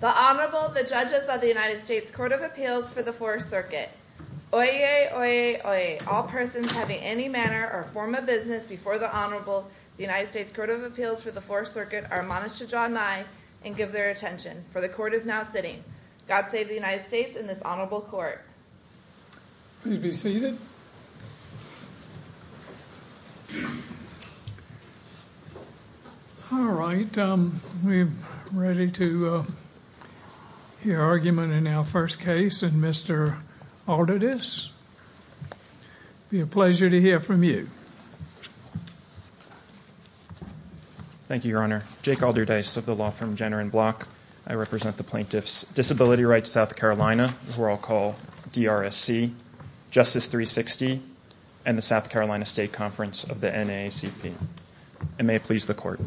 The Honorable, the Judges of the United States Court of Appeals for the Fourth Circuit. Oyez, oyez, oyez. All persons having any manner or form of business before the Honorable, the United States Court of Appeals for the Fourth Circuit, are admonished to draw nigh and give their attention, for the Court is now sitting. God save the United States and this Honorable Court. Please be seated. All right, we're ready to hear argument in our first case and Mr. Alderdice, it will be a pleasure to hear from you. Thank you, Your Honor. Jake Alderdice of the law firm Jenner and Block. I represent the plaintiffs Disability Rights South Carolina, as we're all called, DRSC, Justice 360, and the South Carolina State Conference of the NAACP. And may it please the Court.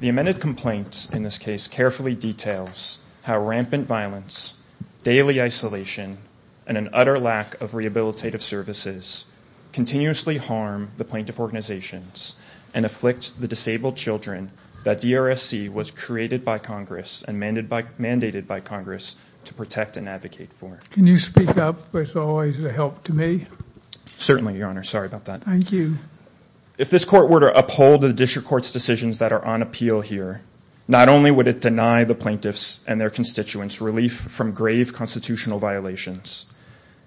The amended complaint in this case carefully details how rampant violence, daily isolation, and an utter lack of rehabilitative services continuously harm the plaintiff organizations and afflict the disabled children that DRSC was created by Congress and mandated by Congress to protect and advocate for. Can you speak up, as always, as a help to me? Certainly, Your Honor. Sorry about that. Thank you. If this Court were to uphold the District Court's decisions that are on appeal here, not only would it deny the plaintiffs and their constituents relief from grave constitutional violations,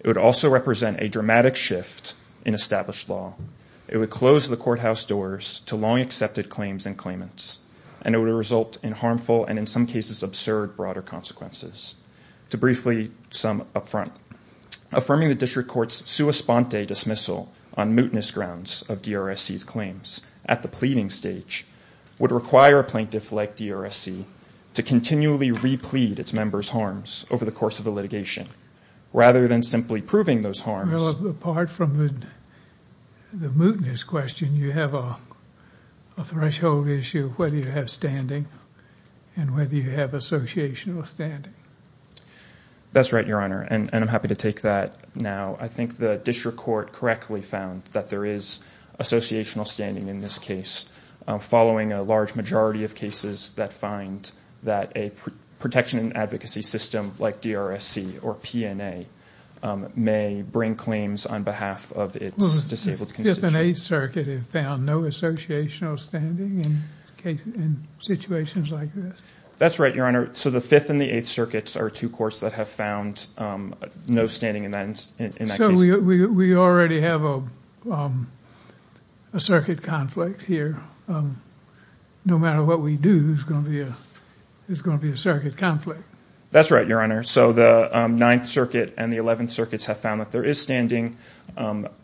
it would also represent a dramatic shift in established law. It would close the courthouse doors to long-accepted claims and claimants, and it would result in harmful and, in some cases, absurd broader consequences. To briefly sum up front, affirming the District Court's sua sponte dismissal on mootness grounds of DRSC's claims at the pleading stage would require a plaintiff like DRSC to continually re-plead its members' harms over the course of the litigation, rather than simply proving those harms. Well, apart from the mootness question, you have a threshold issue of whether you have standing and whether you have associational standing. That's right, Your Honor, and I'm happy to take that now. I think the District Court correctly found that there is associational standing in this case, following a large majority of cases that find that a protection and advocacy system like DRSC or PNA may bring claims on behalf of its disabled constituents. The Fifth and Eighth Circuit have found no associational standing in situations like this? That's right, Your Honor. So the Fifth and the Eighth Circuits are two courts that have found no standing in that case. So we already have a circuit conflict here. No matter what we do, there's going to be a circuit conflict. That's right, Your Honor. So the Ninth Circuit and the Eleventh Circuits have found that there is standing.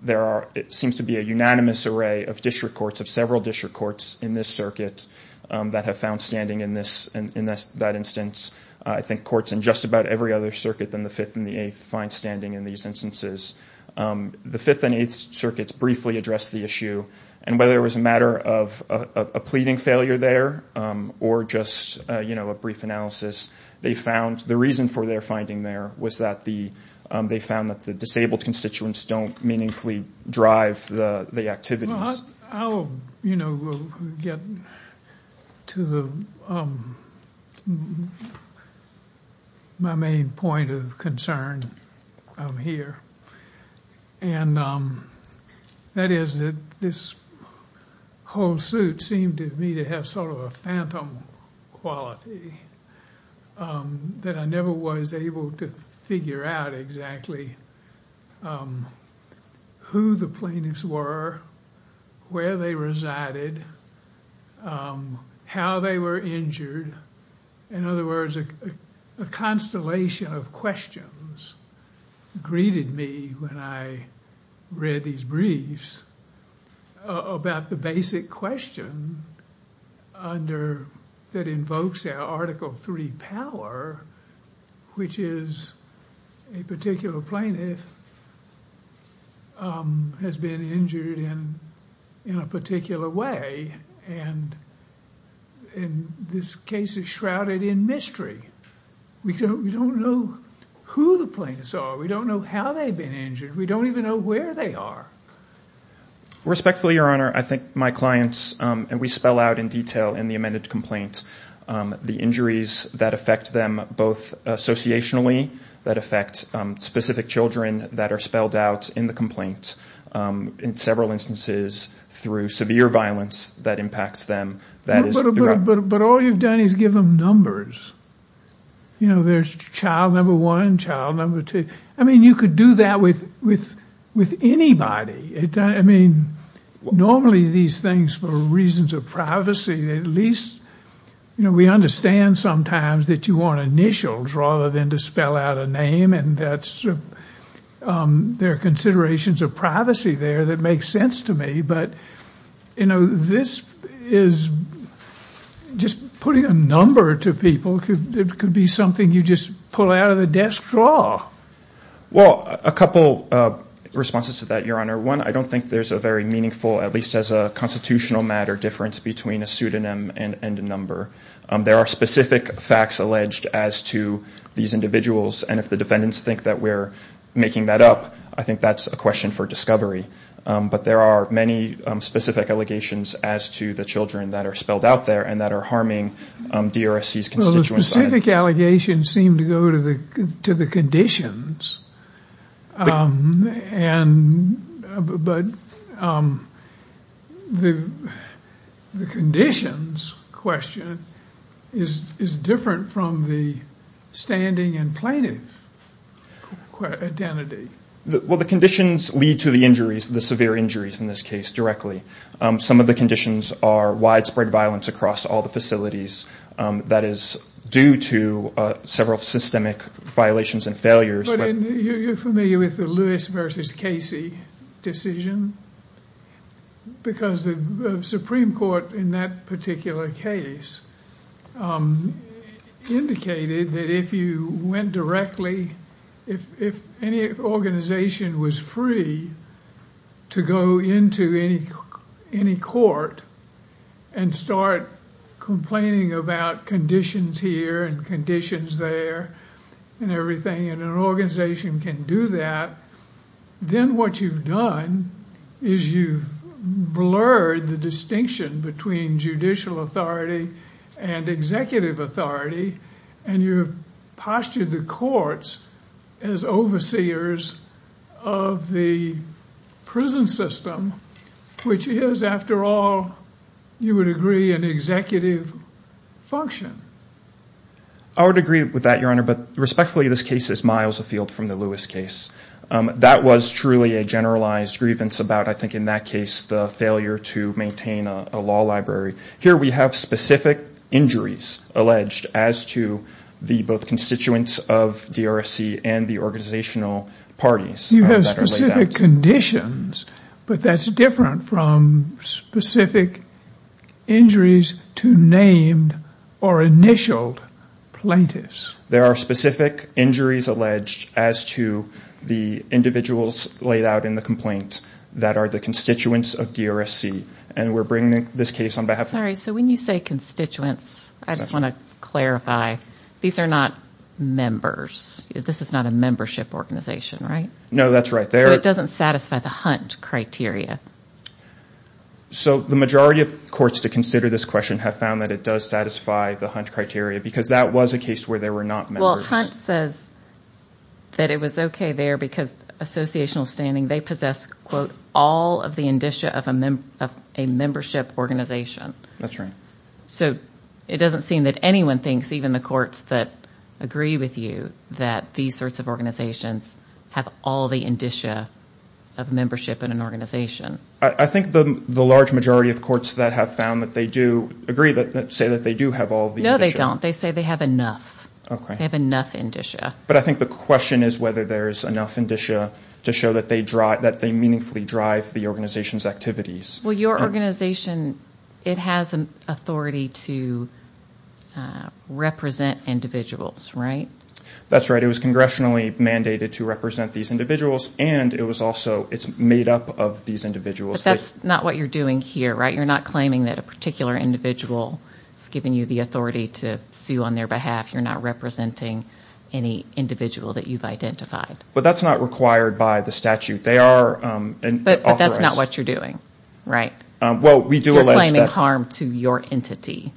There seems to be a unanimous array of District Courts, of several District Courts in this circuit that have found standing in that instance. I think courts in just about every other circuit than the Fifth and the Eighth find standing in these instances. The Fifth and Eighth Circuits briefly addressed the issue, and whether it was a matter of a pleading failure there or just a brief analysis, the reason for their finding there was that they found that the disabled constituents don't meaningfully drive the activities. I'll get to my main point of concern here, and that is that this whole suit seemed to me to have sort of a phantom quality, that I never was able to figure out exactly who the plaintiffs were, where they resided, how they were injured. In other words, a constellation of questions greeted me when I read these briefs about the basic question that invokes Article III power, which is a particular plaintiff has been injured in a particular way, and this case is shrouded in mystery. We don't know who the plaintiffs are. We don't know how they've been injured. We don't even know where they are. Respectfully, Your Honor, I think my clients, and we spell out in detail in the amended complaint the injuries that affect them both associationally, that affect specific children that are spelled out in the complaint in several instances through severe violence that impacts them. But all you've done is give them numbers. You know, there's child number one, child number two. I mean, you could do that with anybody. I mean, normally these things, for reasons of privacy, at least, you know, we understand sometimes that you want initials rather than to spell out a name, and there are considerations of privacy there that make sense to me, but, you know, this is just putting a number to people. It could be something you just pull out of the desk drawer. Well, a couple of responses to that, Your Honor. One, I don't think there's a very meaningful, at least as a constitutional matter, difference between a pseudonym and a number. There are specific facts alleged as to these individuals, and if the defendants think that we're making that up, I think that's a question for discovery. But there are many specific allegations as to the children that are spelled out there and that are harming DRSC's constituent side. The specific allegations seem to go to the conditions, but the conditions question is different from the standing and plaintiff identity. Well, the conditions lead to the injuries, the severe injuries in this case, directly. Some of the conditions are widespread violence across all the facilities. That is due to several systemic violations and failures. You're familiar with the Lewis versus Casey decision? Because the Supreme Court in that particular case indicated that if you went directly, if any organization was free to go into any court and start complaining about conditions here and conditions there and everything, and an organization can do that, then what you've done is you've blurred the distinction between judicial authority and executive authority, and you've postured the courts as overseers of the prison system, which is, after all, you would agree, an executive function. I would agree with that, Your Honor, but respectfully, this case is miles afield from the Lewis case. That was truly a generalized grievance about, I think in that case, the failure to maintain a law library. Here we have specific injuries alleged as to the both constituents of DRSC and the organizational parties. You have specific conditions, but that's different from specific injuries to named or initial plaintiffs. There are specific injuries alleged as to the individuals laid out in the complaint that are the constituents of DRSC, and we're bringing this case on behalf of them. Sorry, so when you say constituents, I just want to clarify, these are not members. This is not a membership organization, right? No, that's right. So it doesn't satisfy the Hunt criteria. So the majority of courts to consider this question have found that it does satisfy the Hunt criteria because that was a case where there were not members. Well, Hunt says that it was okay there because associational standing, they possess, quote, all of the indicia of a membership organization. That's right. So it doesn't seem that anyone thinks, even the courts that agree with you, that these sorts of organizations have all the indicia of membership in an organization. I think the large majority of courts that have found that they do agree, say that they do have all the indicia. No, they don't. They say they have enough. Okay. They have enough indicia. But I think the question is whether there is enough indicia to show that they meaningfully drive the organization's activities. Well, your organization, it has an authority to represent individuals, right? That's right. It was congressionally mandated to represent these individuals, and it was also, it's made up of these individuals. But that's not what you're doing here, right? You're not claiming that a particular individual has given you the authority to sue on their behalf. You're not representing any individual that you've identified. But that's not required by the statute. But that's not what you're doing, right? You're claiming harm to your entity.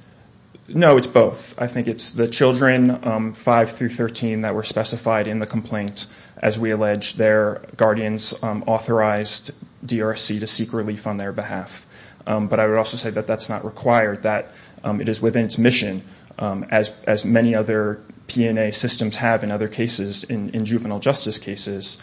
No, it's both. I think it's the children, 5 through 13, that were specified in the complaint. As we allege, their guardians authorized DRSC to seek relief on their behalf. But I would also say that that's not required. That it is within its mission, as many other P&A systems have in other cases, in juvenile justice cases,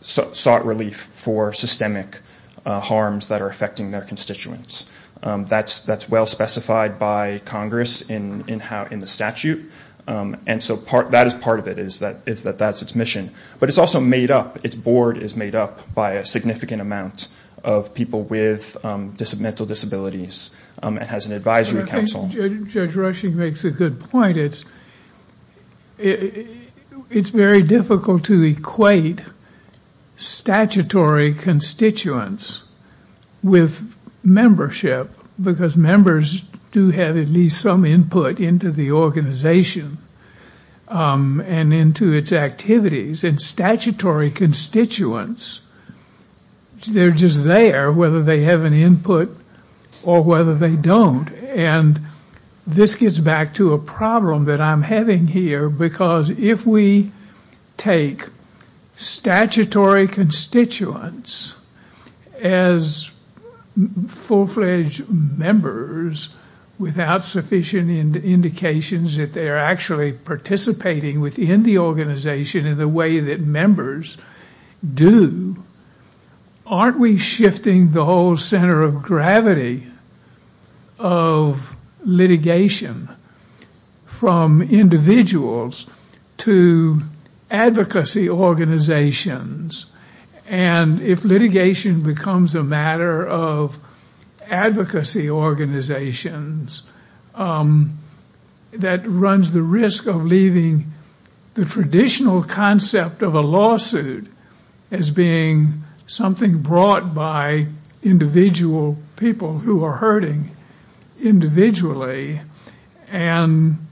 sought relief for systemic harms that are affecting their constituents. That's well specified by Congress in the statute. And so that is part of it, is that that's its mission. But it's also made up, its board is made up by a significant amount of people with mental disabilities. It has an advisory council. I think Judge Rushing makes a good point. It's very difficult to equate statutory constituents with membership. Because members do have at least some input into the organization and into its activities. And statutory constituents, they're just there whether they have an input or whether they don't. And this gets back to a problem that I'm having here. Because if we take statutory constituents as full-fledged members without sufficient indications that they're actually participating within the organization in the way that members do, aren't we shifting the whole center of gravity of litigation from individuals to advocacy organizations? And if litigation becomes a matter of advocacy organizations, that runs the risk of leaving the traditional concept of a lawsuit as being something brought by individual people who are hurting individually. And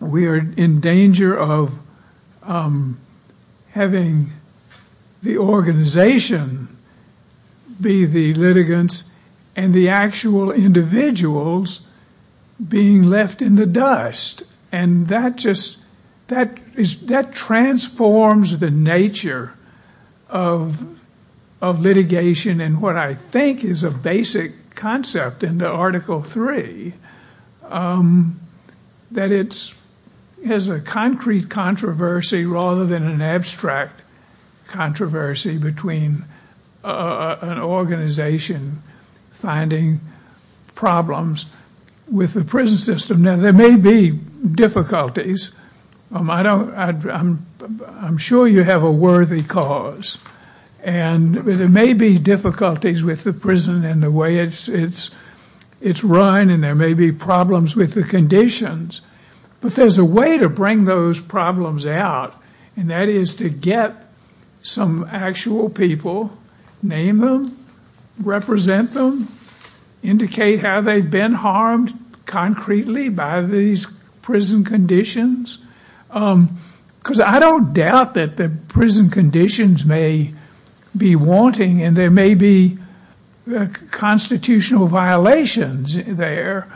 we're in danger of having the organization be the litigants and the actual individuals being left in the dust. And that just transforms the nature of litigation and what I think is a basic concept in the Article 3. That it has a concrete controversy rather than an abstract controversy between an organization finding problems with the prison system. Now there may be difficulties. I'm sure you have a worthy cause. And there may be difficulties with the prison and the way it's run and there may be problems with the conditions. But there's a way to bring those problems out. And that is to get some actual people, name them, represent them, indicate how they've been harmed concretely by these prison conditions. Because I don't doubt that the prison conditions may be wanting and there may be constitutional violations there.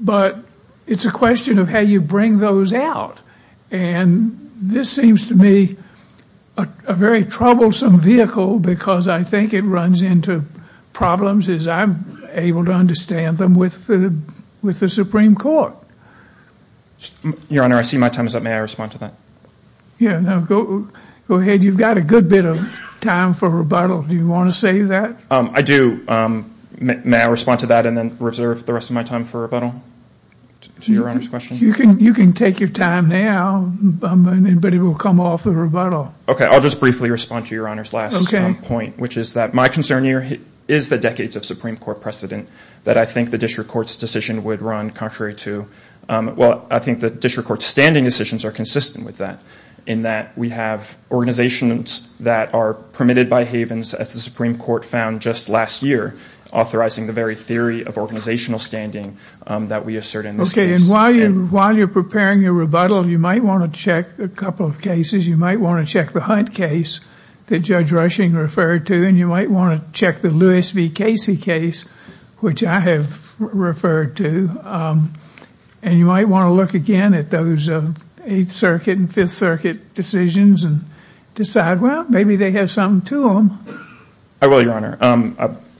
But it's a question of how you bring those out. And this seems to me a very troublesome vehicle because I think it runs into problems as I'm able to understand them with the Supreme Court. Your Honor, I see my time is up. May I respond to that? Yeah, go ahead. You've got a good bit of time for rebuttal. Do you want to say that? I do. May I respond to that and then reserve the rest of my time for rebuttal to Your Honor's question? You can take your time now, but it will come off the rebuttal. Okay, I'll just briefly respond to Your Honor's last point, which is that my concern here is the decades of Supreme Court precedent that I think the district court's decision would run contrary to. Well, I think the district court's standing decisions are consistent with that in that we have organizations that are permitted by havens, as the Supreme Court found just last year, authorizing the very theory of organizational standing that we assert in this case. Okay, and while you're preparing your rebuttal, you might want to check a couple of cases. You might want to check the Hunt case that Judge Rushing referred to, and you might want to check the Lewis v. Casey case, which I have referred to, and you might want to look again at those Eighth Circuit and Fifth Circuit decisions and decide, well, maybe they have something to them. I will, Your Honor.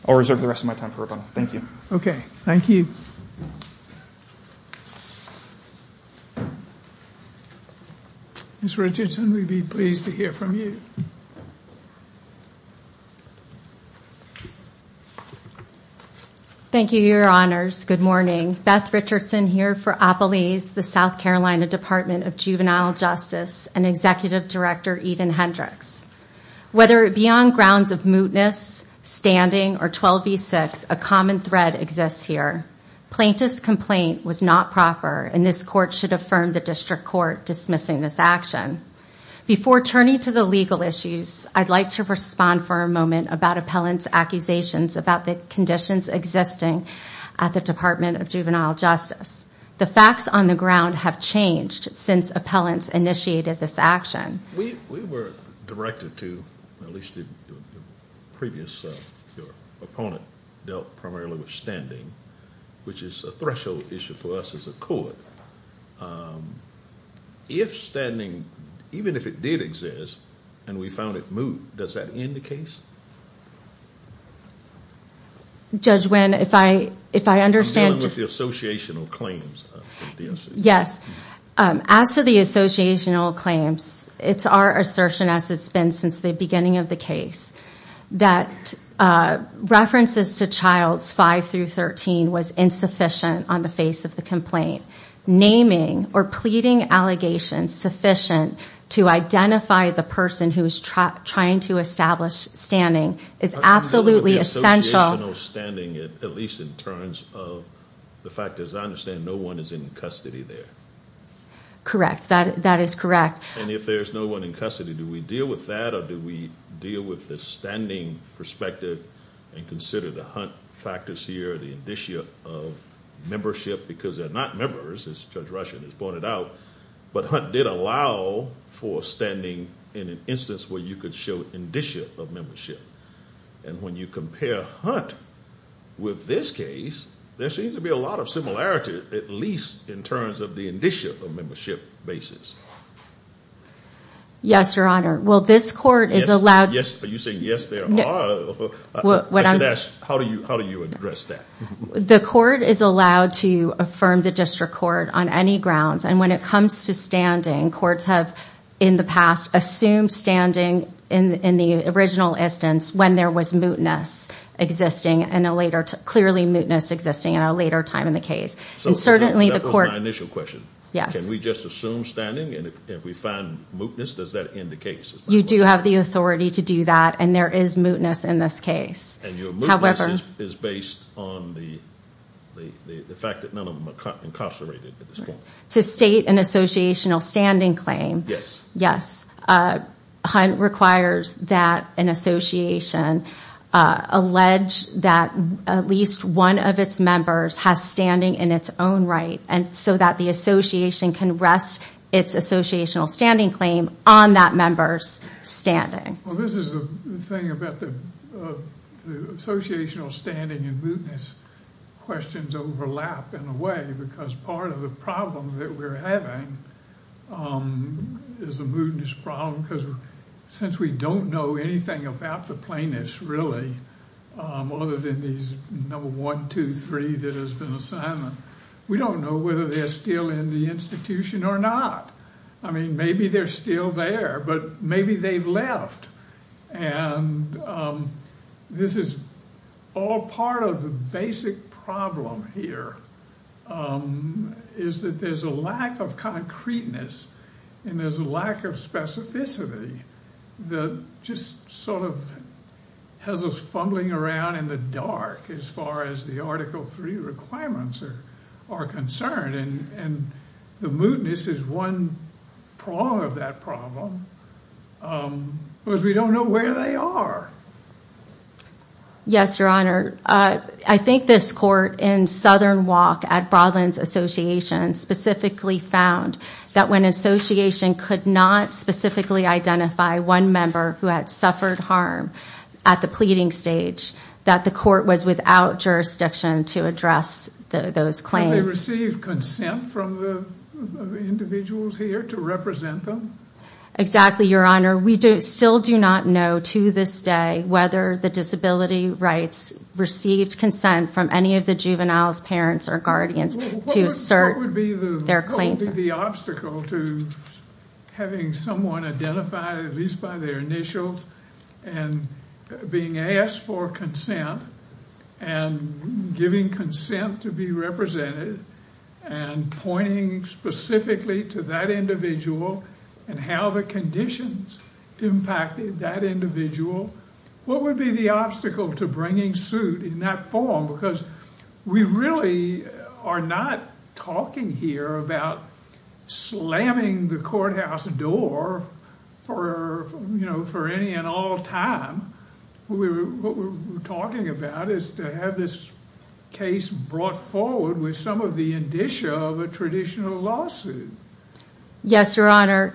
I'll reserve the rest of my time for rebuttal. Thank you. Okay, thank you. Ms. Richardson, we'd be pleased to hear from you. Thank you, Your Honors. Good morning. Beth Richardson here for Appelese, the South Carolina Department of Juvenile Justice and Executive Director Eden Hendricks. Whether it be on grounds of mootness, standing, or 12v6, a common thread exists here. Plaintiff's complaint was not proper, and this court should affirm the district court dismissing this action. Before turning to the legal issues, I'd like to respond for a moment about appellant's accusations about the conditions existing at the Department of Juvenile Justice. The facts on the ground have changed since appellants initiated this action. We were directed to, at least the previous opponent, dealt primarily with standing, which is a threshold issue for us as a court. If standing, even if it did exist, and we found it moot, does that end the case? Judge Wynn, if I understand... I'm dealing with the associational claims. Yes. As to the associational claims, it's our assertion as it's been since the beginning of the case that references to Childs 5 through 13 was insufficient on the face of the complaint. Naming or pleading allegations sufficient to identify the person who is trying to establish standing is absolutely essential. I'm dealing with the associational standing, at least in terms of the fact, as I understand, no one is in custody there. Correct. That is correct. If there's no one in custody, do we deal with that, or do we deal with the standing perspective and consider the Hunt factors here, the indicia of membership, because they're not members, as Judge Rushen has pointed out, but Hunt did allow for standing in an instance where you could show indicia of membership. When you compare Hunt with this case, there seems to be a lot of similarity, at least in terms of the indicia of membership basis. Yes, Your Honor. Well, this court is allowed... Are you saying yes, there are? How do you address that? The court is allowed to affirm the district court on any grounds, and when it comes to standing, courts have, in the past, assumed standing in the original instance when there was mootness existing, clearly mootness existing at a later time in the case. That was my initial question. Yes. Can we just assume standing, and if we find mootness, does that end the case? You do have the authority to do that, and there is mootness in this case. And your mootness is based on the fact that none of them are incarcerated at this point. To state an associational standing claim... Yes. Hunt requires that an association allege that at least one of its members has standing in its own right, so that the association can rest its associational standing claim on that member's standing. Well, this is the thing about the associational standing and mootness questions overlap, in a way, because part of the problem that we're having is a mootness problem, because since we don't know anything about the plaintiffs, really, other than these number one, two, three that has been assigned, we don't know whether they're still in the institution or not. I mean, maybe they're still there, but maybe they've left. And this is all part of the basic problem here, is that there's a lack of concreteness, and there's a lack of specificity that just sort of has us fumbling around in the dark as far as the Article III requirements are concerned. And the mootness is one prong of that problem. Because we don't know where they are. Yes, Your Honor. I think this court in Southern Walk at Broadlands Association specifically found that when an association could not specifically identify one member who had suffered harm at the pleading stage, that the court was without jurisdiction to address those claims. Did they receive consent from the individuals here to represent them? Exactly, Your Honor. We still do not know to this day whether the disability rights received consent from any of the juveniles, parents, or guardians to assert their claims. What would be the obstacle to having someone identify, at least by their initials, and being asked for consent, and giving consent to be represented, and pointing specifically to that individual and how the conditions impacted that individual? What would be the obstacle to bringing suit in that form? Because we really are not talking here about slamming the courthouse door for any and all time. What we're talking about is to have this case brought forward with some of the indicia of a traditional lawsuit. Yes, Your Honor.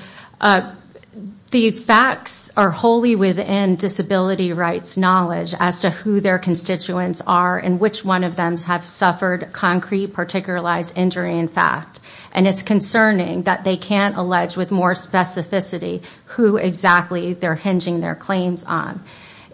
The facts are wholly within disability rights knowledge as to who their constituents are and which one of them have suffered concrete, particularized injury in fact. It's concerning that they can't allege with more specificity who exactly they're hinging their claims on.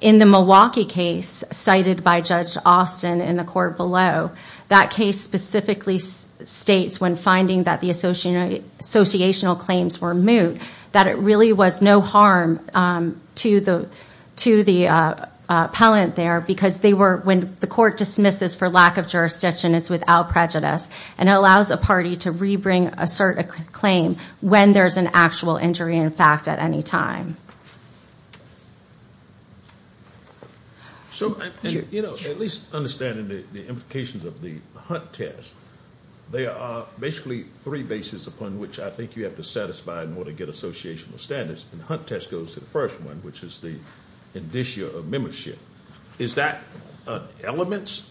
In the Milwaukee case cited by Judge Austin in the court below, that case specifically states when finding that the associational claims were moot, that it really was no harm to the appellant there, because when the court dismisses for lack of jurisdiction, it's without prejudice. And it allows a party to rebring assert a claim when there's an actual injury in fact at any time. So at least understanding the implications of the Hunt test, there are basically three bases upon which I think you have to satisfy in order to get associational standards. And the Hunt test goes to the first one, which is the indicia of membership. Is that an element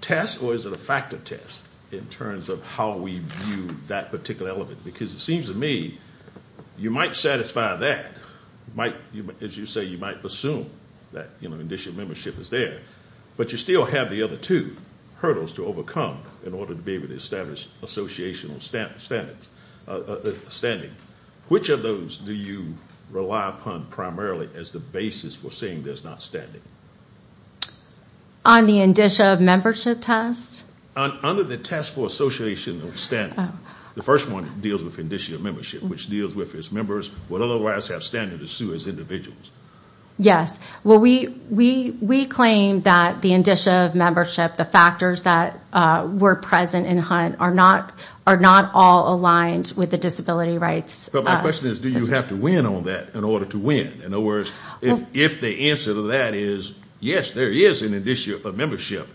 test or is it a factor test in terms of how we view that particular element? Because it seems to me you might satisfy that. As you say, you might assume that indicia of membership is there, but you still have the other two hurdles to overcome in order to be able to establish associational standards. Standing. Which of those do you rely upon primarily as the basis for saying there's not standing? On the indicia of membership test? Under the test for associational standing. The first one deals with indicia of membership, which deals with if members would otherwise have standing to sue as individuals. Yes. Well, we claim that the indicia of membership, the factors that were present in Hunt, are not all aligned with the disability rights system. But my question is, do you have to win on that in order to win? In other words, if the answer to that is, yes, there is an indicia of membership,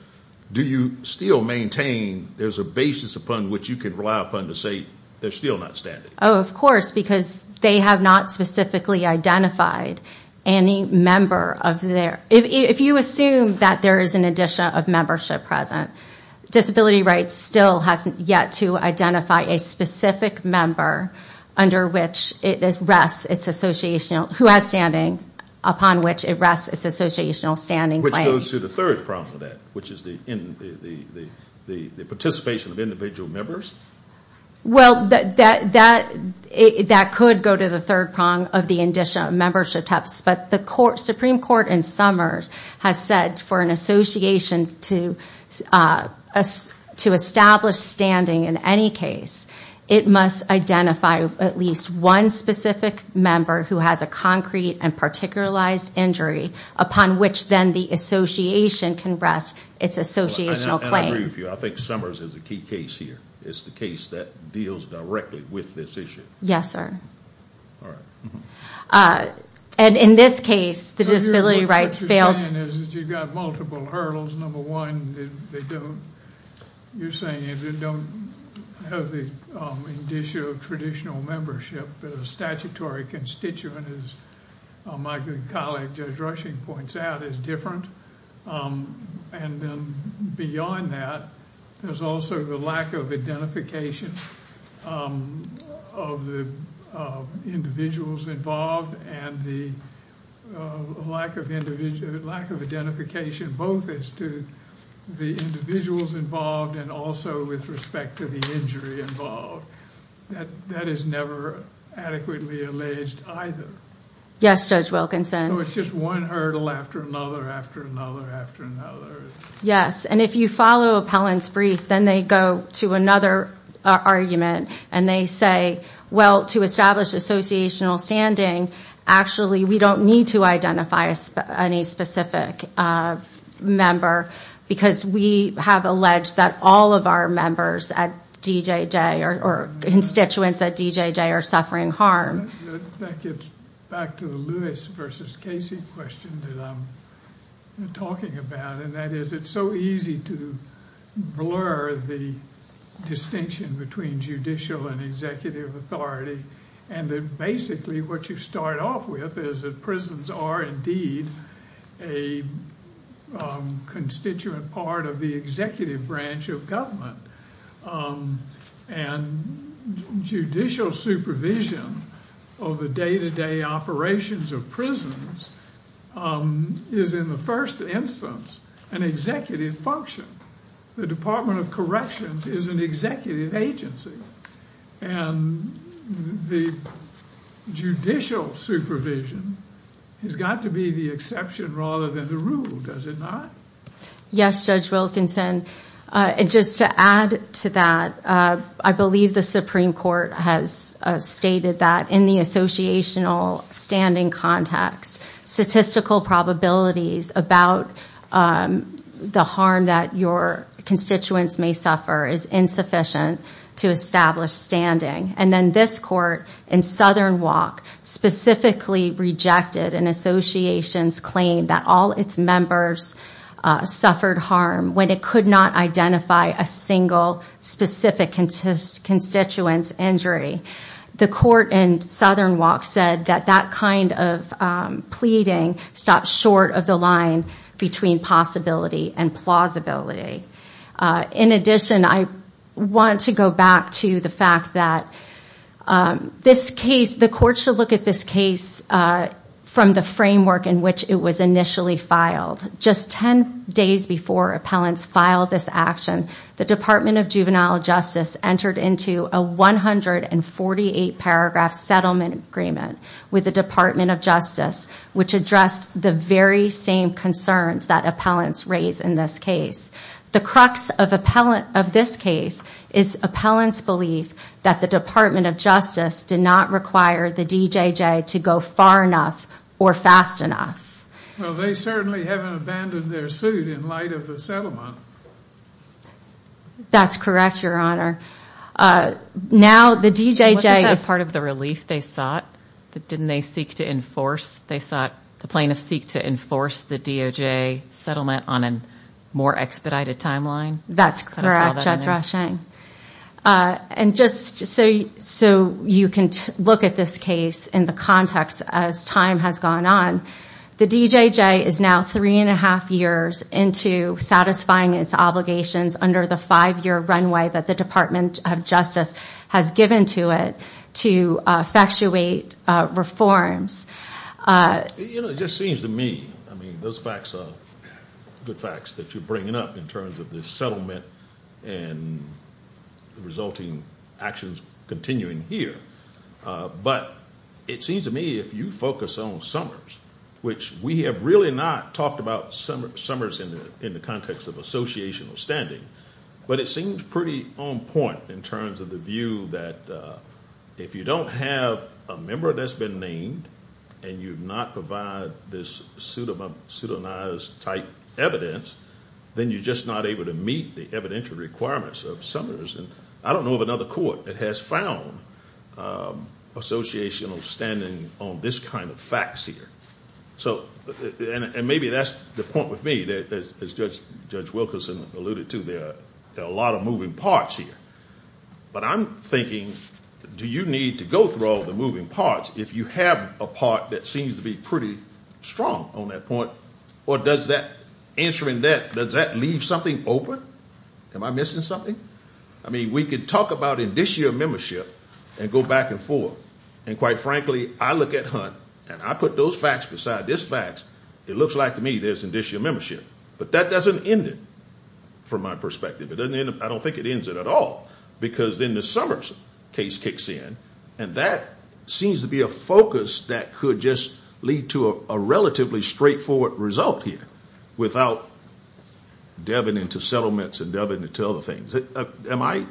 do you still maintain there's a basis upon which you can rely upon to say there's still not standing? Oh, of course, because they have not specifically identified any member of their If you assume that there is an indicia of membership present, disability rights still hasn't yet to identify a specific member under which it rests its associational who has standing upon which it rests its associational standing. Which goes to the third problem with that, which is the participation of individual members. Well, that could go to the third prong of the indicia of membership test. But the Supreme Court in Summers has said for an association to establish standing in any case, it must identify at least one specific member who has a concrete and particularized injury upon which then the association can rest its associational claim. And I agree with you. I think Summers is a key case here. It's the case that deals directly with this issue. Yes, sir. All right. And in this case, the disability rights failed. What you're saying is that you've got multiple hurdles. Number one, you're saying if you don't have the indicia of traditional membership, the statutory constituent, as my good colleague Judge Rushing points out, is different. And then beyond that, there's also the lack of identification of the individuals involved and the lack of identification both as to the individuals involved and also with respect to the injury involved. That is never adequately alleged either. Yes, Judge Wilkinson. So it's just one hurdle after another after another after another. Yes, and if you follow Appellant's brief, then they go to another argument and they say, well, to establish associational standing, actually we don't need to identify any specific member because we have alleged that all of our members at DJJ or constituents at DJJ are suffering harm. That gets back to the Lewis versus Casey question that I'm talking about, and that is it's so easy to blur the distinction between judicial and executive authority and that basically what you start off with is that prisons are indeed a constituent part of the executive branch of government. And judicial supervision of the day-to-day operations of prisons is in the first instance an executive function. The Department of Corrections is an executive agency, and the judicial supervision has got to be the exception rather than the rule, does it not? Yes, Judge Wilkinson. And just to add to that, I believe the Supreme Court has stated that in the associational standing context, statistical probabilities about the harm that your constituents may suffer is insufficient to establish standing. And then this court in Southern Walk specifically rejected an association's claim that all its members suffered harm when it could not identify a single specific constituent's injury. The court in Southern Walk said that that kind of pleading stopped short of the line between possibility and plausibility. In addition, I want to go back to the fact that this case, the court should look at this case from the framework in which it was initially filed. Just 10 days before appellants filed this action, the Department of Juvenile Justice entered into a 148-paragraph settlement agreement with the Department of Justice, which addressed the very same concerns that appellants raised in this case. The crux of this case is appellants' belief that the Department of Justice did not require the DJJ to go far enough or fast enough. Well, they certainly haven't abandoned their suit in light of the settlement. That's correct, Your Honor. Now, the DJJ was part of the relief they sought. Didn't they seek to enforce? They sought, the plaintiffs seek to enforce the DOJ settlement on a more expedited timeline. That's correct, Judge Roshang. And just so you can look at this case in the context as time has gone on, the DJJ is now three and a half years into satisfying its obligations under the five-year runway that the Department of Justice has given to it to effectuate reforms. You know, it just seems to me, I mean, those facts are good facts that you're bringing up in terms of the settlement and the resulting actions continuing here. But it seems to me if you focus on Summers, which we have really not talked about Summers in the context of associational standing, but it seems pretty on point in terms of the view that if you don't have a member that's been named and you've not provided this pseudonymized type evidence, then you're just not able to meet the evidentiary requirements of Summers. And I don't know of another court that has found associational standing on this kind of facts here. And maybe that's the point with me that, as Judge Wilkerson alluded to, there are a lot of moving parts here. But I'm thinking, do you need to go through all the moving parts if you have a part that seems to be pretty strong on that point? Or does that, answering that, does that leave something open? Am I missing something? I mean, we could talk about in this year membership and go back and forth. And quite frankly, I look at Hunt and I put those facts beside this fact. It looks like to me there's an issue of membership. But that doesn't end it from my perspective. It doesn't end it. I don't think it ends it at all. Because then the Summers case kicks in, and that seems to be a focus that could just lead to a relatively straightforward result here without delving into settlements and delving into other things. Am I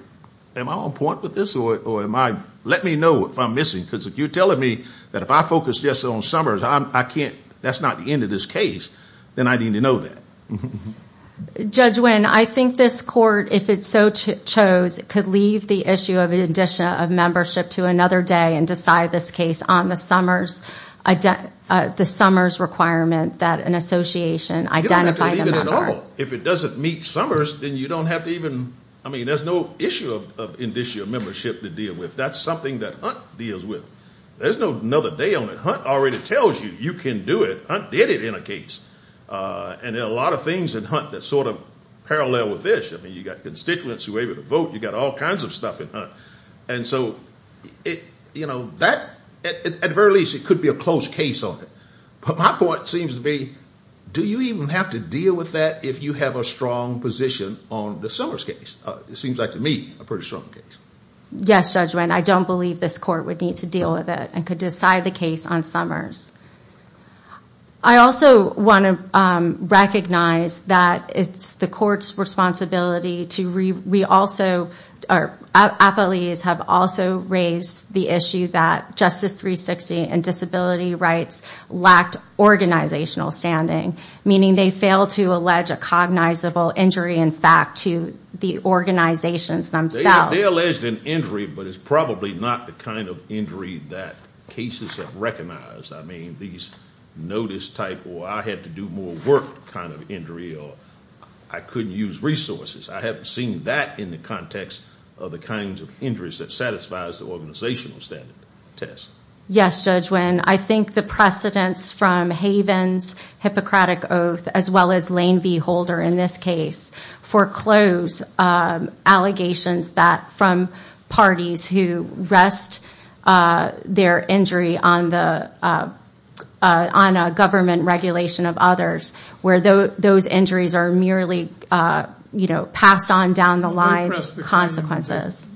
on point with this? Let me know if I'm missing. Because if you're telling me that if I focus just on Summers, that's not the end of this case, then I need to know that. Judge Wynn, I think this court, if it so chose, could leave the issue of an addition of membership to another day and decide this case on the Summers requirement that an association identify the member. You don't have to leave it at all. If it doesn't meet Summers, then you don't have to even, I mean, there's no issue of addition of membership to deal with. That's something that Hunt deals with. There's no another day on it. Hunt already tells you you can do it. Hunt did it in a case. And there are a lot of things in Hunt that sort of parallel with this. I mean, you've got constituents who are able to vote. You've got all kinds of stuff in Hunt. And so, you know, that, at the very least, it could be a close case on it. But my point seems to be, do you even have to deal with that if you have a strong position on the Summers case? It seems like, to me, a pretty strong case. Yes, Judge Wynn. I don't believe this court would need to deal with it and could decide the case on Summers. I also want to recognize that it's the court's responsibility to re- We also, our appellees have also raised the issue that Justice 360 and disability rights lacked organizational standing, meaning they failed to allege a cognizable injury in fact to the organizations themselves. They alleged an injury, but it's probably not the kind of injury that cases have recognized. I mean, these notice type, or I had to do more work kind of injury, or I couldn't use resources. I haven't seen that in the context of the kinds of injuries that satisfies the organizational standard test. Yes, Judge Wynn. I think the precedence from Haven's Hippocratic Oath, as well as Lane v. Holder in this case, foreclosed allegations that from parties who rest their injury on a government regulation of others, where those injuries are merely passed on down the line consequences.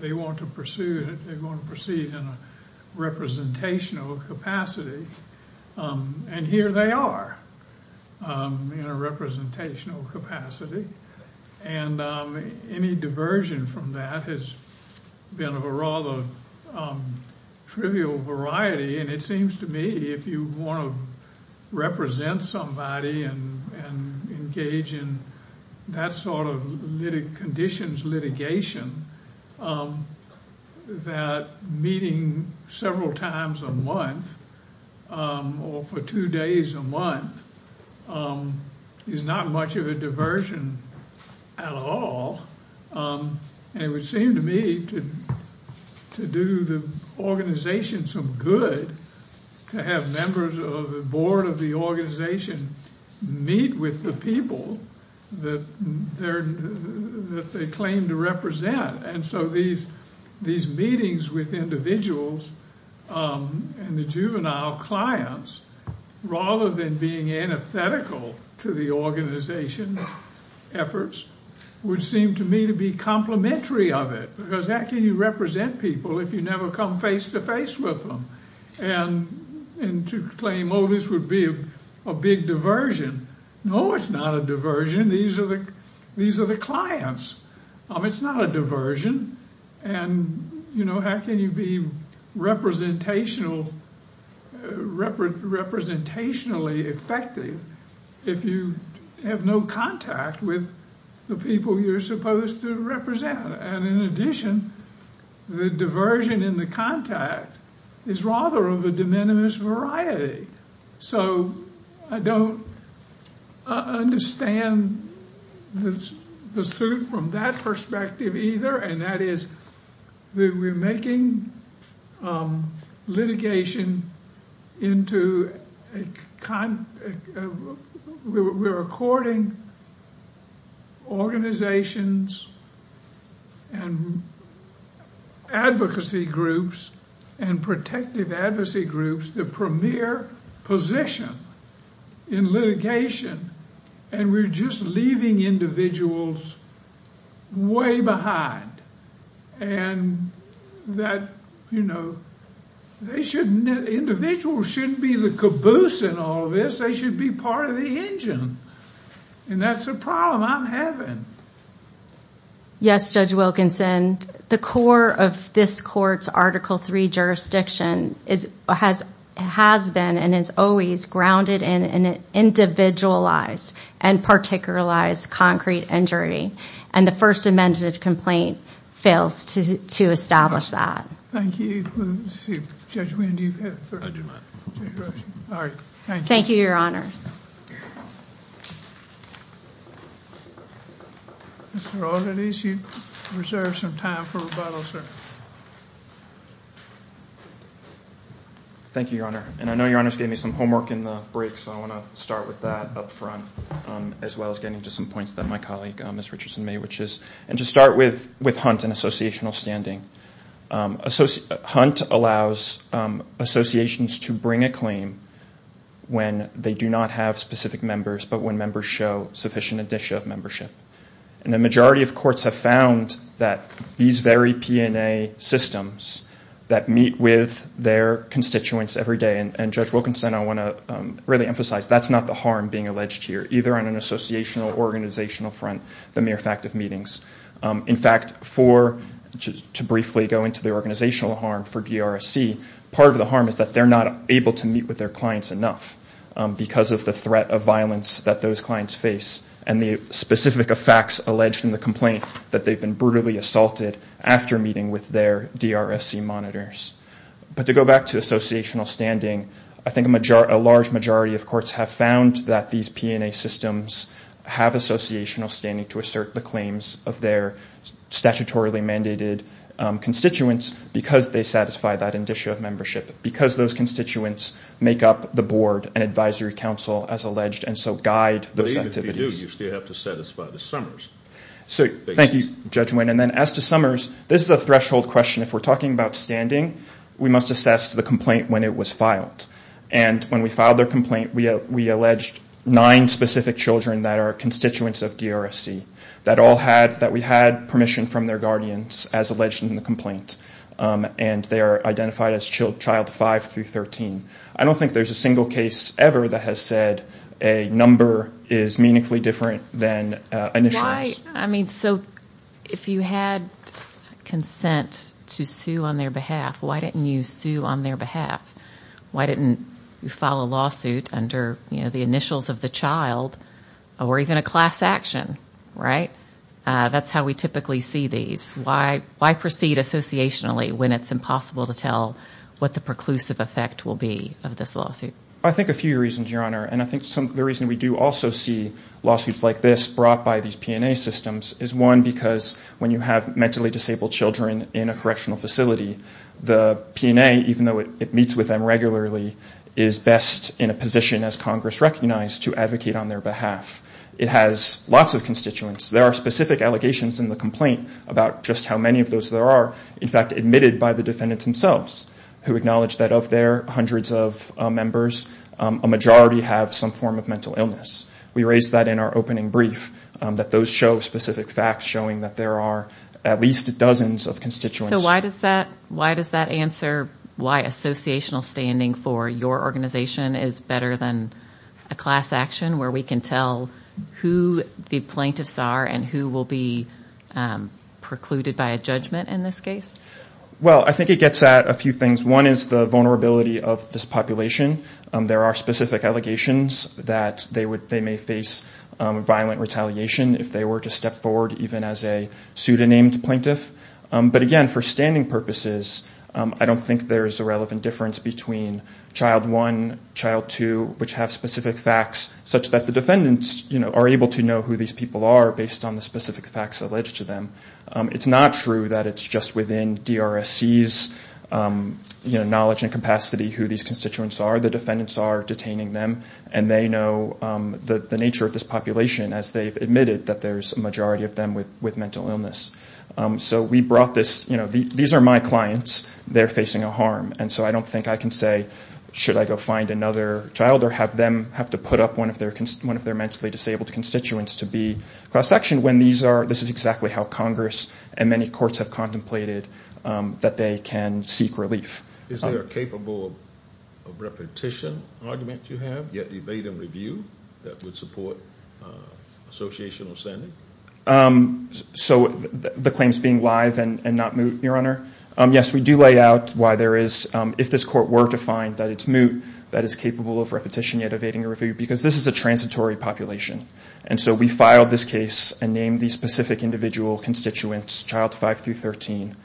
They want to proceed in a representational capacity, and here they are in a representational capacity. And any diversion from that has been of a rather trivial variety, and it seems to me if you want to represent somebody and engage in that sort of conditions litigation, that meeting several times a month or for two days a month is not much of a diversion at all. And it would seem to me to do the organization some good to have members of the board of the organization meet with the people that they claim to represent. And so these meetings with individuals and the juvenile clients, rather than being antithetical to the organization's efforts, would seem to me to be complimentary of it, because how can you represent people if you never come face to face with them? And to claim, oh, this would be a big diversion. No, it's not a diversion. These are the clients. It's not a diversion. And how can you be representationally effective if you have no contact with the people you're supposed to represent? And in addition, the diversion in the contact is rather of a de minimis variety. So I don't understand the suit from that perspective either, and that is that we're making litigation into a kind of – we're according organizations and advocacy groups and protective advocacy groups the premier position in litigation, and we're just leaving individuals way behind. And that individuals shouldn't be the caboose in all of this. They should be part of the engine. And that's a problem I'm having. Yes, Judge Wilkinson. The core of this court's Article III jurisdiction has been and is always grounded in an individualized and particularized concrete injury, and the first amended complaint fails to establish that. Thank you. Let's see. Judge Wind, do you have a question? I do not. All right. Thank you. Thank you, Your Honors. Mr. Aldenese, you reserve some time for rebuttal, sir. Thank you, Your Honor. And I know Your Honors gave me some homework in the break, so I want to start with that up front as well as getting to some points that my colleague, Ms. Richardson, made, which is to start with Hunt and associational standing. Hunt allows associations to bring a claim when they do not have specific members but when members show sufficient addition of membership. And the majority of courts have found that these very P&A systems that meet with their constituents every day, and Judge Wilkinson, I want to really emphasize that's not the harm being alleged here, either on an associational or organizational front, the mere fact of meetings. In fact, to briefly go into the organizational harm for DRSC, part of the harm is that they're not able to meet with their clients enough because of the threat of violence that those clients face and the specific effects alleged in the complaint that they've been brutally assaulted after meeting with their DRSC monitors. But to go back to associational standing, I think a large majority of courts have found that these P&A systems have associational standing to assert the claims of their statutorily mandated constituents because they satisfy that addition of membership, because those constituents make up the board and advisory council, as alleged, and so guide those activities. But even if you do, you still have to satisfy the Summers. Thank you, Judge Wynn. And then as to Summers, this is a threshold question. If we're talking about standing, we must assess the complaint when it was filed. And when we filed their complaint, we alleged nine specific children that are constituents of DRSC that we had permission from their guardians, as alleged in the complaint, and they are identified as child five through 13. I don't think there's a single case ever that has said a number is meaningfully different than initials. So if you had consent to sue on their behalf, why didn't you sue on their behalf? Why didn't you file a lawsuit under the initials of the child or even a class action, right? That's how we typically see these. Why proceed associationally when it's impossible to tell what the preclusive effect will be of this lawsuit? I think a few reasons, Your Honor, and I think the reason we do also see lawsuits like this brought by these P&A systems is, one, because when you have mentally disabled children in a correctional facility, the P&A, even though it meets with them regularly, is best in a position, as Congress recognized, to advocate on their behalf. It has lots of constituents. There are specific allegations in the complaint about just how many of those there are, in fact admitted by the defendants themselves, who acknowledge that of their hundreds of members, a majority have some form of mental illness. We raised that in our opening brief, that those show specific facts showing that there are at least dozens of constituents. So why does that answer why associational standing for your organization is better than a class action, where we can tell who the plaintiffs are and who will be precluded by a judgment in this case? Well, I think it gets at a few things. One is the vulnerability of this population. There are specific allegations that they may face violent retaliation if they were to step forward, even as a pseudonamed plaintiff. But, again, for standing purposes, I don't think there is a relevant difference between child one, child two, which have specific facts such that the defendants are able to know who these people are based on the specific facts alleged to them. It's not true that it's just within DRSC's knowledge and capacity who these constituents are. The defendants are detaining them, and they know the nature of this population, as they've admitted that there's a majority of them with mental illness. So we brought this, you know, these are my clients. They're facing a harm. And so I don't think I can say, should I go find another child or have them have to put up one of their mentally disabled constituents to be class actioned, when this is exactly how Congress and many courts have contemplated that they can seek relief. Is there a capable of repetition argument you have yet debate and review that would support associational standing? So the claims being live and not moot, Your Honor? Yes, we do lay out why there is, if this court were to find that it's moot, that is capable of repetition yet evading a review, because this is a transitory population. And so we filed this case and named these specific individual constituents, child five through 13.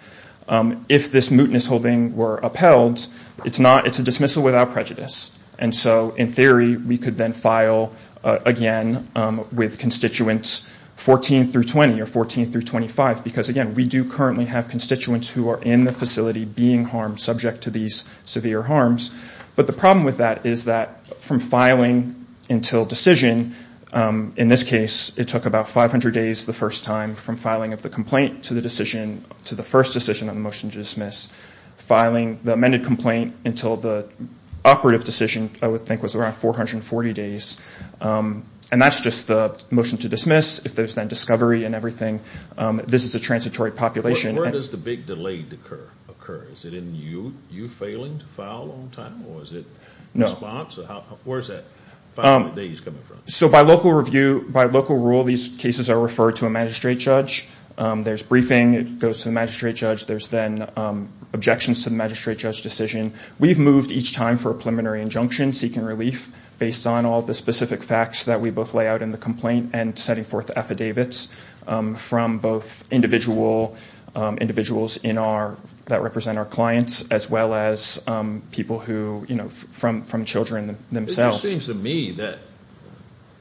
If this mootness holding were upheld, it's a dismissal without prejudice. And so, in theory, we could then file, again, with constituents 14 through 20 or 14 through 25, because, again, we do currently have constituents who are in the facility being harmed, subject to these severe harms. But the problem with that is that from filing until decision, in this case, it took about 500 days the first time, from filing of the complaint to the decision, to the first decision on the motion to dismiss, filing the amended complaint until the operative decision, I would think, was around 440 days. And that's just the motion to dismiss. If there's then discovery and everything, this is a transitory population. Where does the big delay occur? Is it in you failing to file on time, or is it response? Where is that 500 days coming from? So by local review, by local rule, these cases are referred to a magistrate judge. There's briefing. It goes to the magistrate judge. There's then objections to the magistrate judge decision. We've moved each time for a preliminary injunction, seeking relief, based on all the specific facts that we both lay out in the complaint and setting forth affidavits from both individuals that represent our clients, as well as people from children themselves. It just seems to me that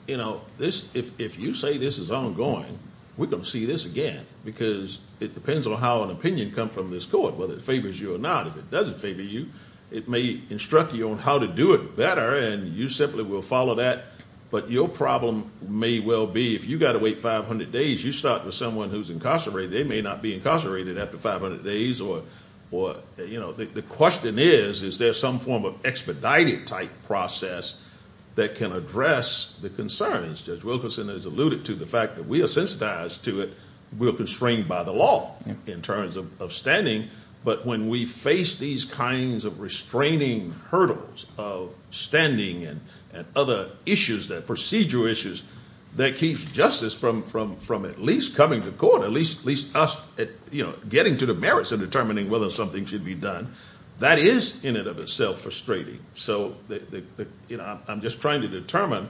if you say this is ongoing, we're going to see this again, because it depends on how an opinion comes from this court, whether it favors you or not. If it doesn't favor you, it may instruct you on how to do it better, and you simply will follow that. But your problem may well be if you've got to wait 500 days, you start with someone who's incarcerated. They may not be incarcerated after 500 days. The question is, is there some form of expedited type process that can address the concerns? Judge Wilkerson has alluded to the fact that we are sensitized to it. We are constrained by the law in terms of standing. But when we face these kinds of restraining hurdles of standing and other issues, the procedural issues, that keeps justice from at least coming to court, at least us getting to the merits of determining whether something should be done, that is in and of itself frustrating. So I'm just trying to determine,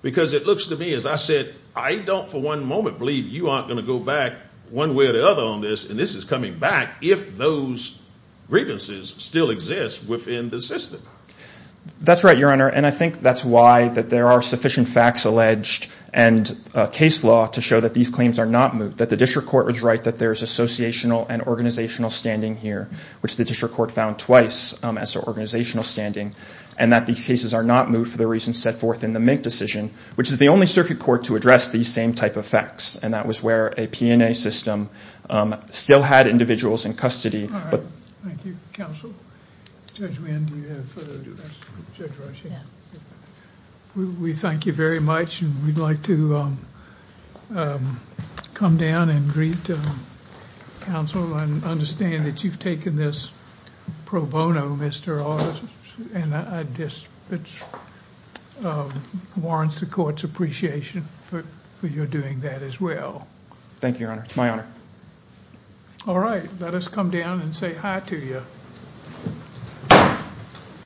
because it looks to me, as I said, I don't for one moment believe you aren't going to go back one way or the other on this, and this is coming back if those grievances still exist within the system. That's right, Your Honor, and I think that's why there are sufficient facts alleged and case law to show that these claims are not moved, that the district court was right, that there is associational and organizational standing here, which the district court found twice as organizational standing, and that these cases are not moved for the reasons set forth in the Mink decision, which is the only circuit court to address these same type of facts, and that was where a P&A system still had individuals in custody. All right. Thank you, counsel. Judge Wynn, do you have a further address? We thank you very much, and we'd like to come down and greet counsel and understand that you've taken this pro bono, Mr. August, and it warrants the court's appreciation for your doing that as well. Thank you, Your Honor. It's my honor. All right. Let us come down and say hi to you.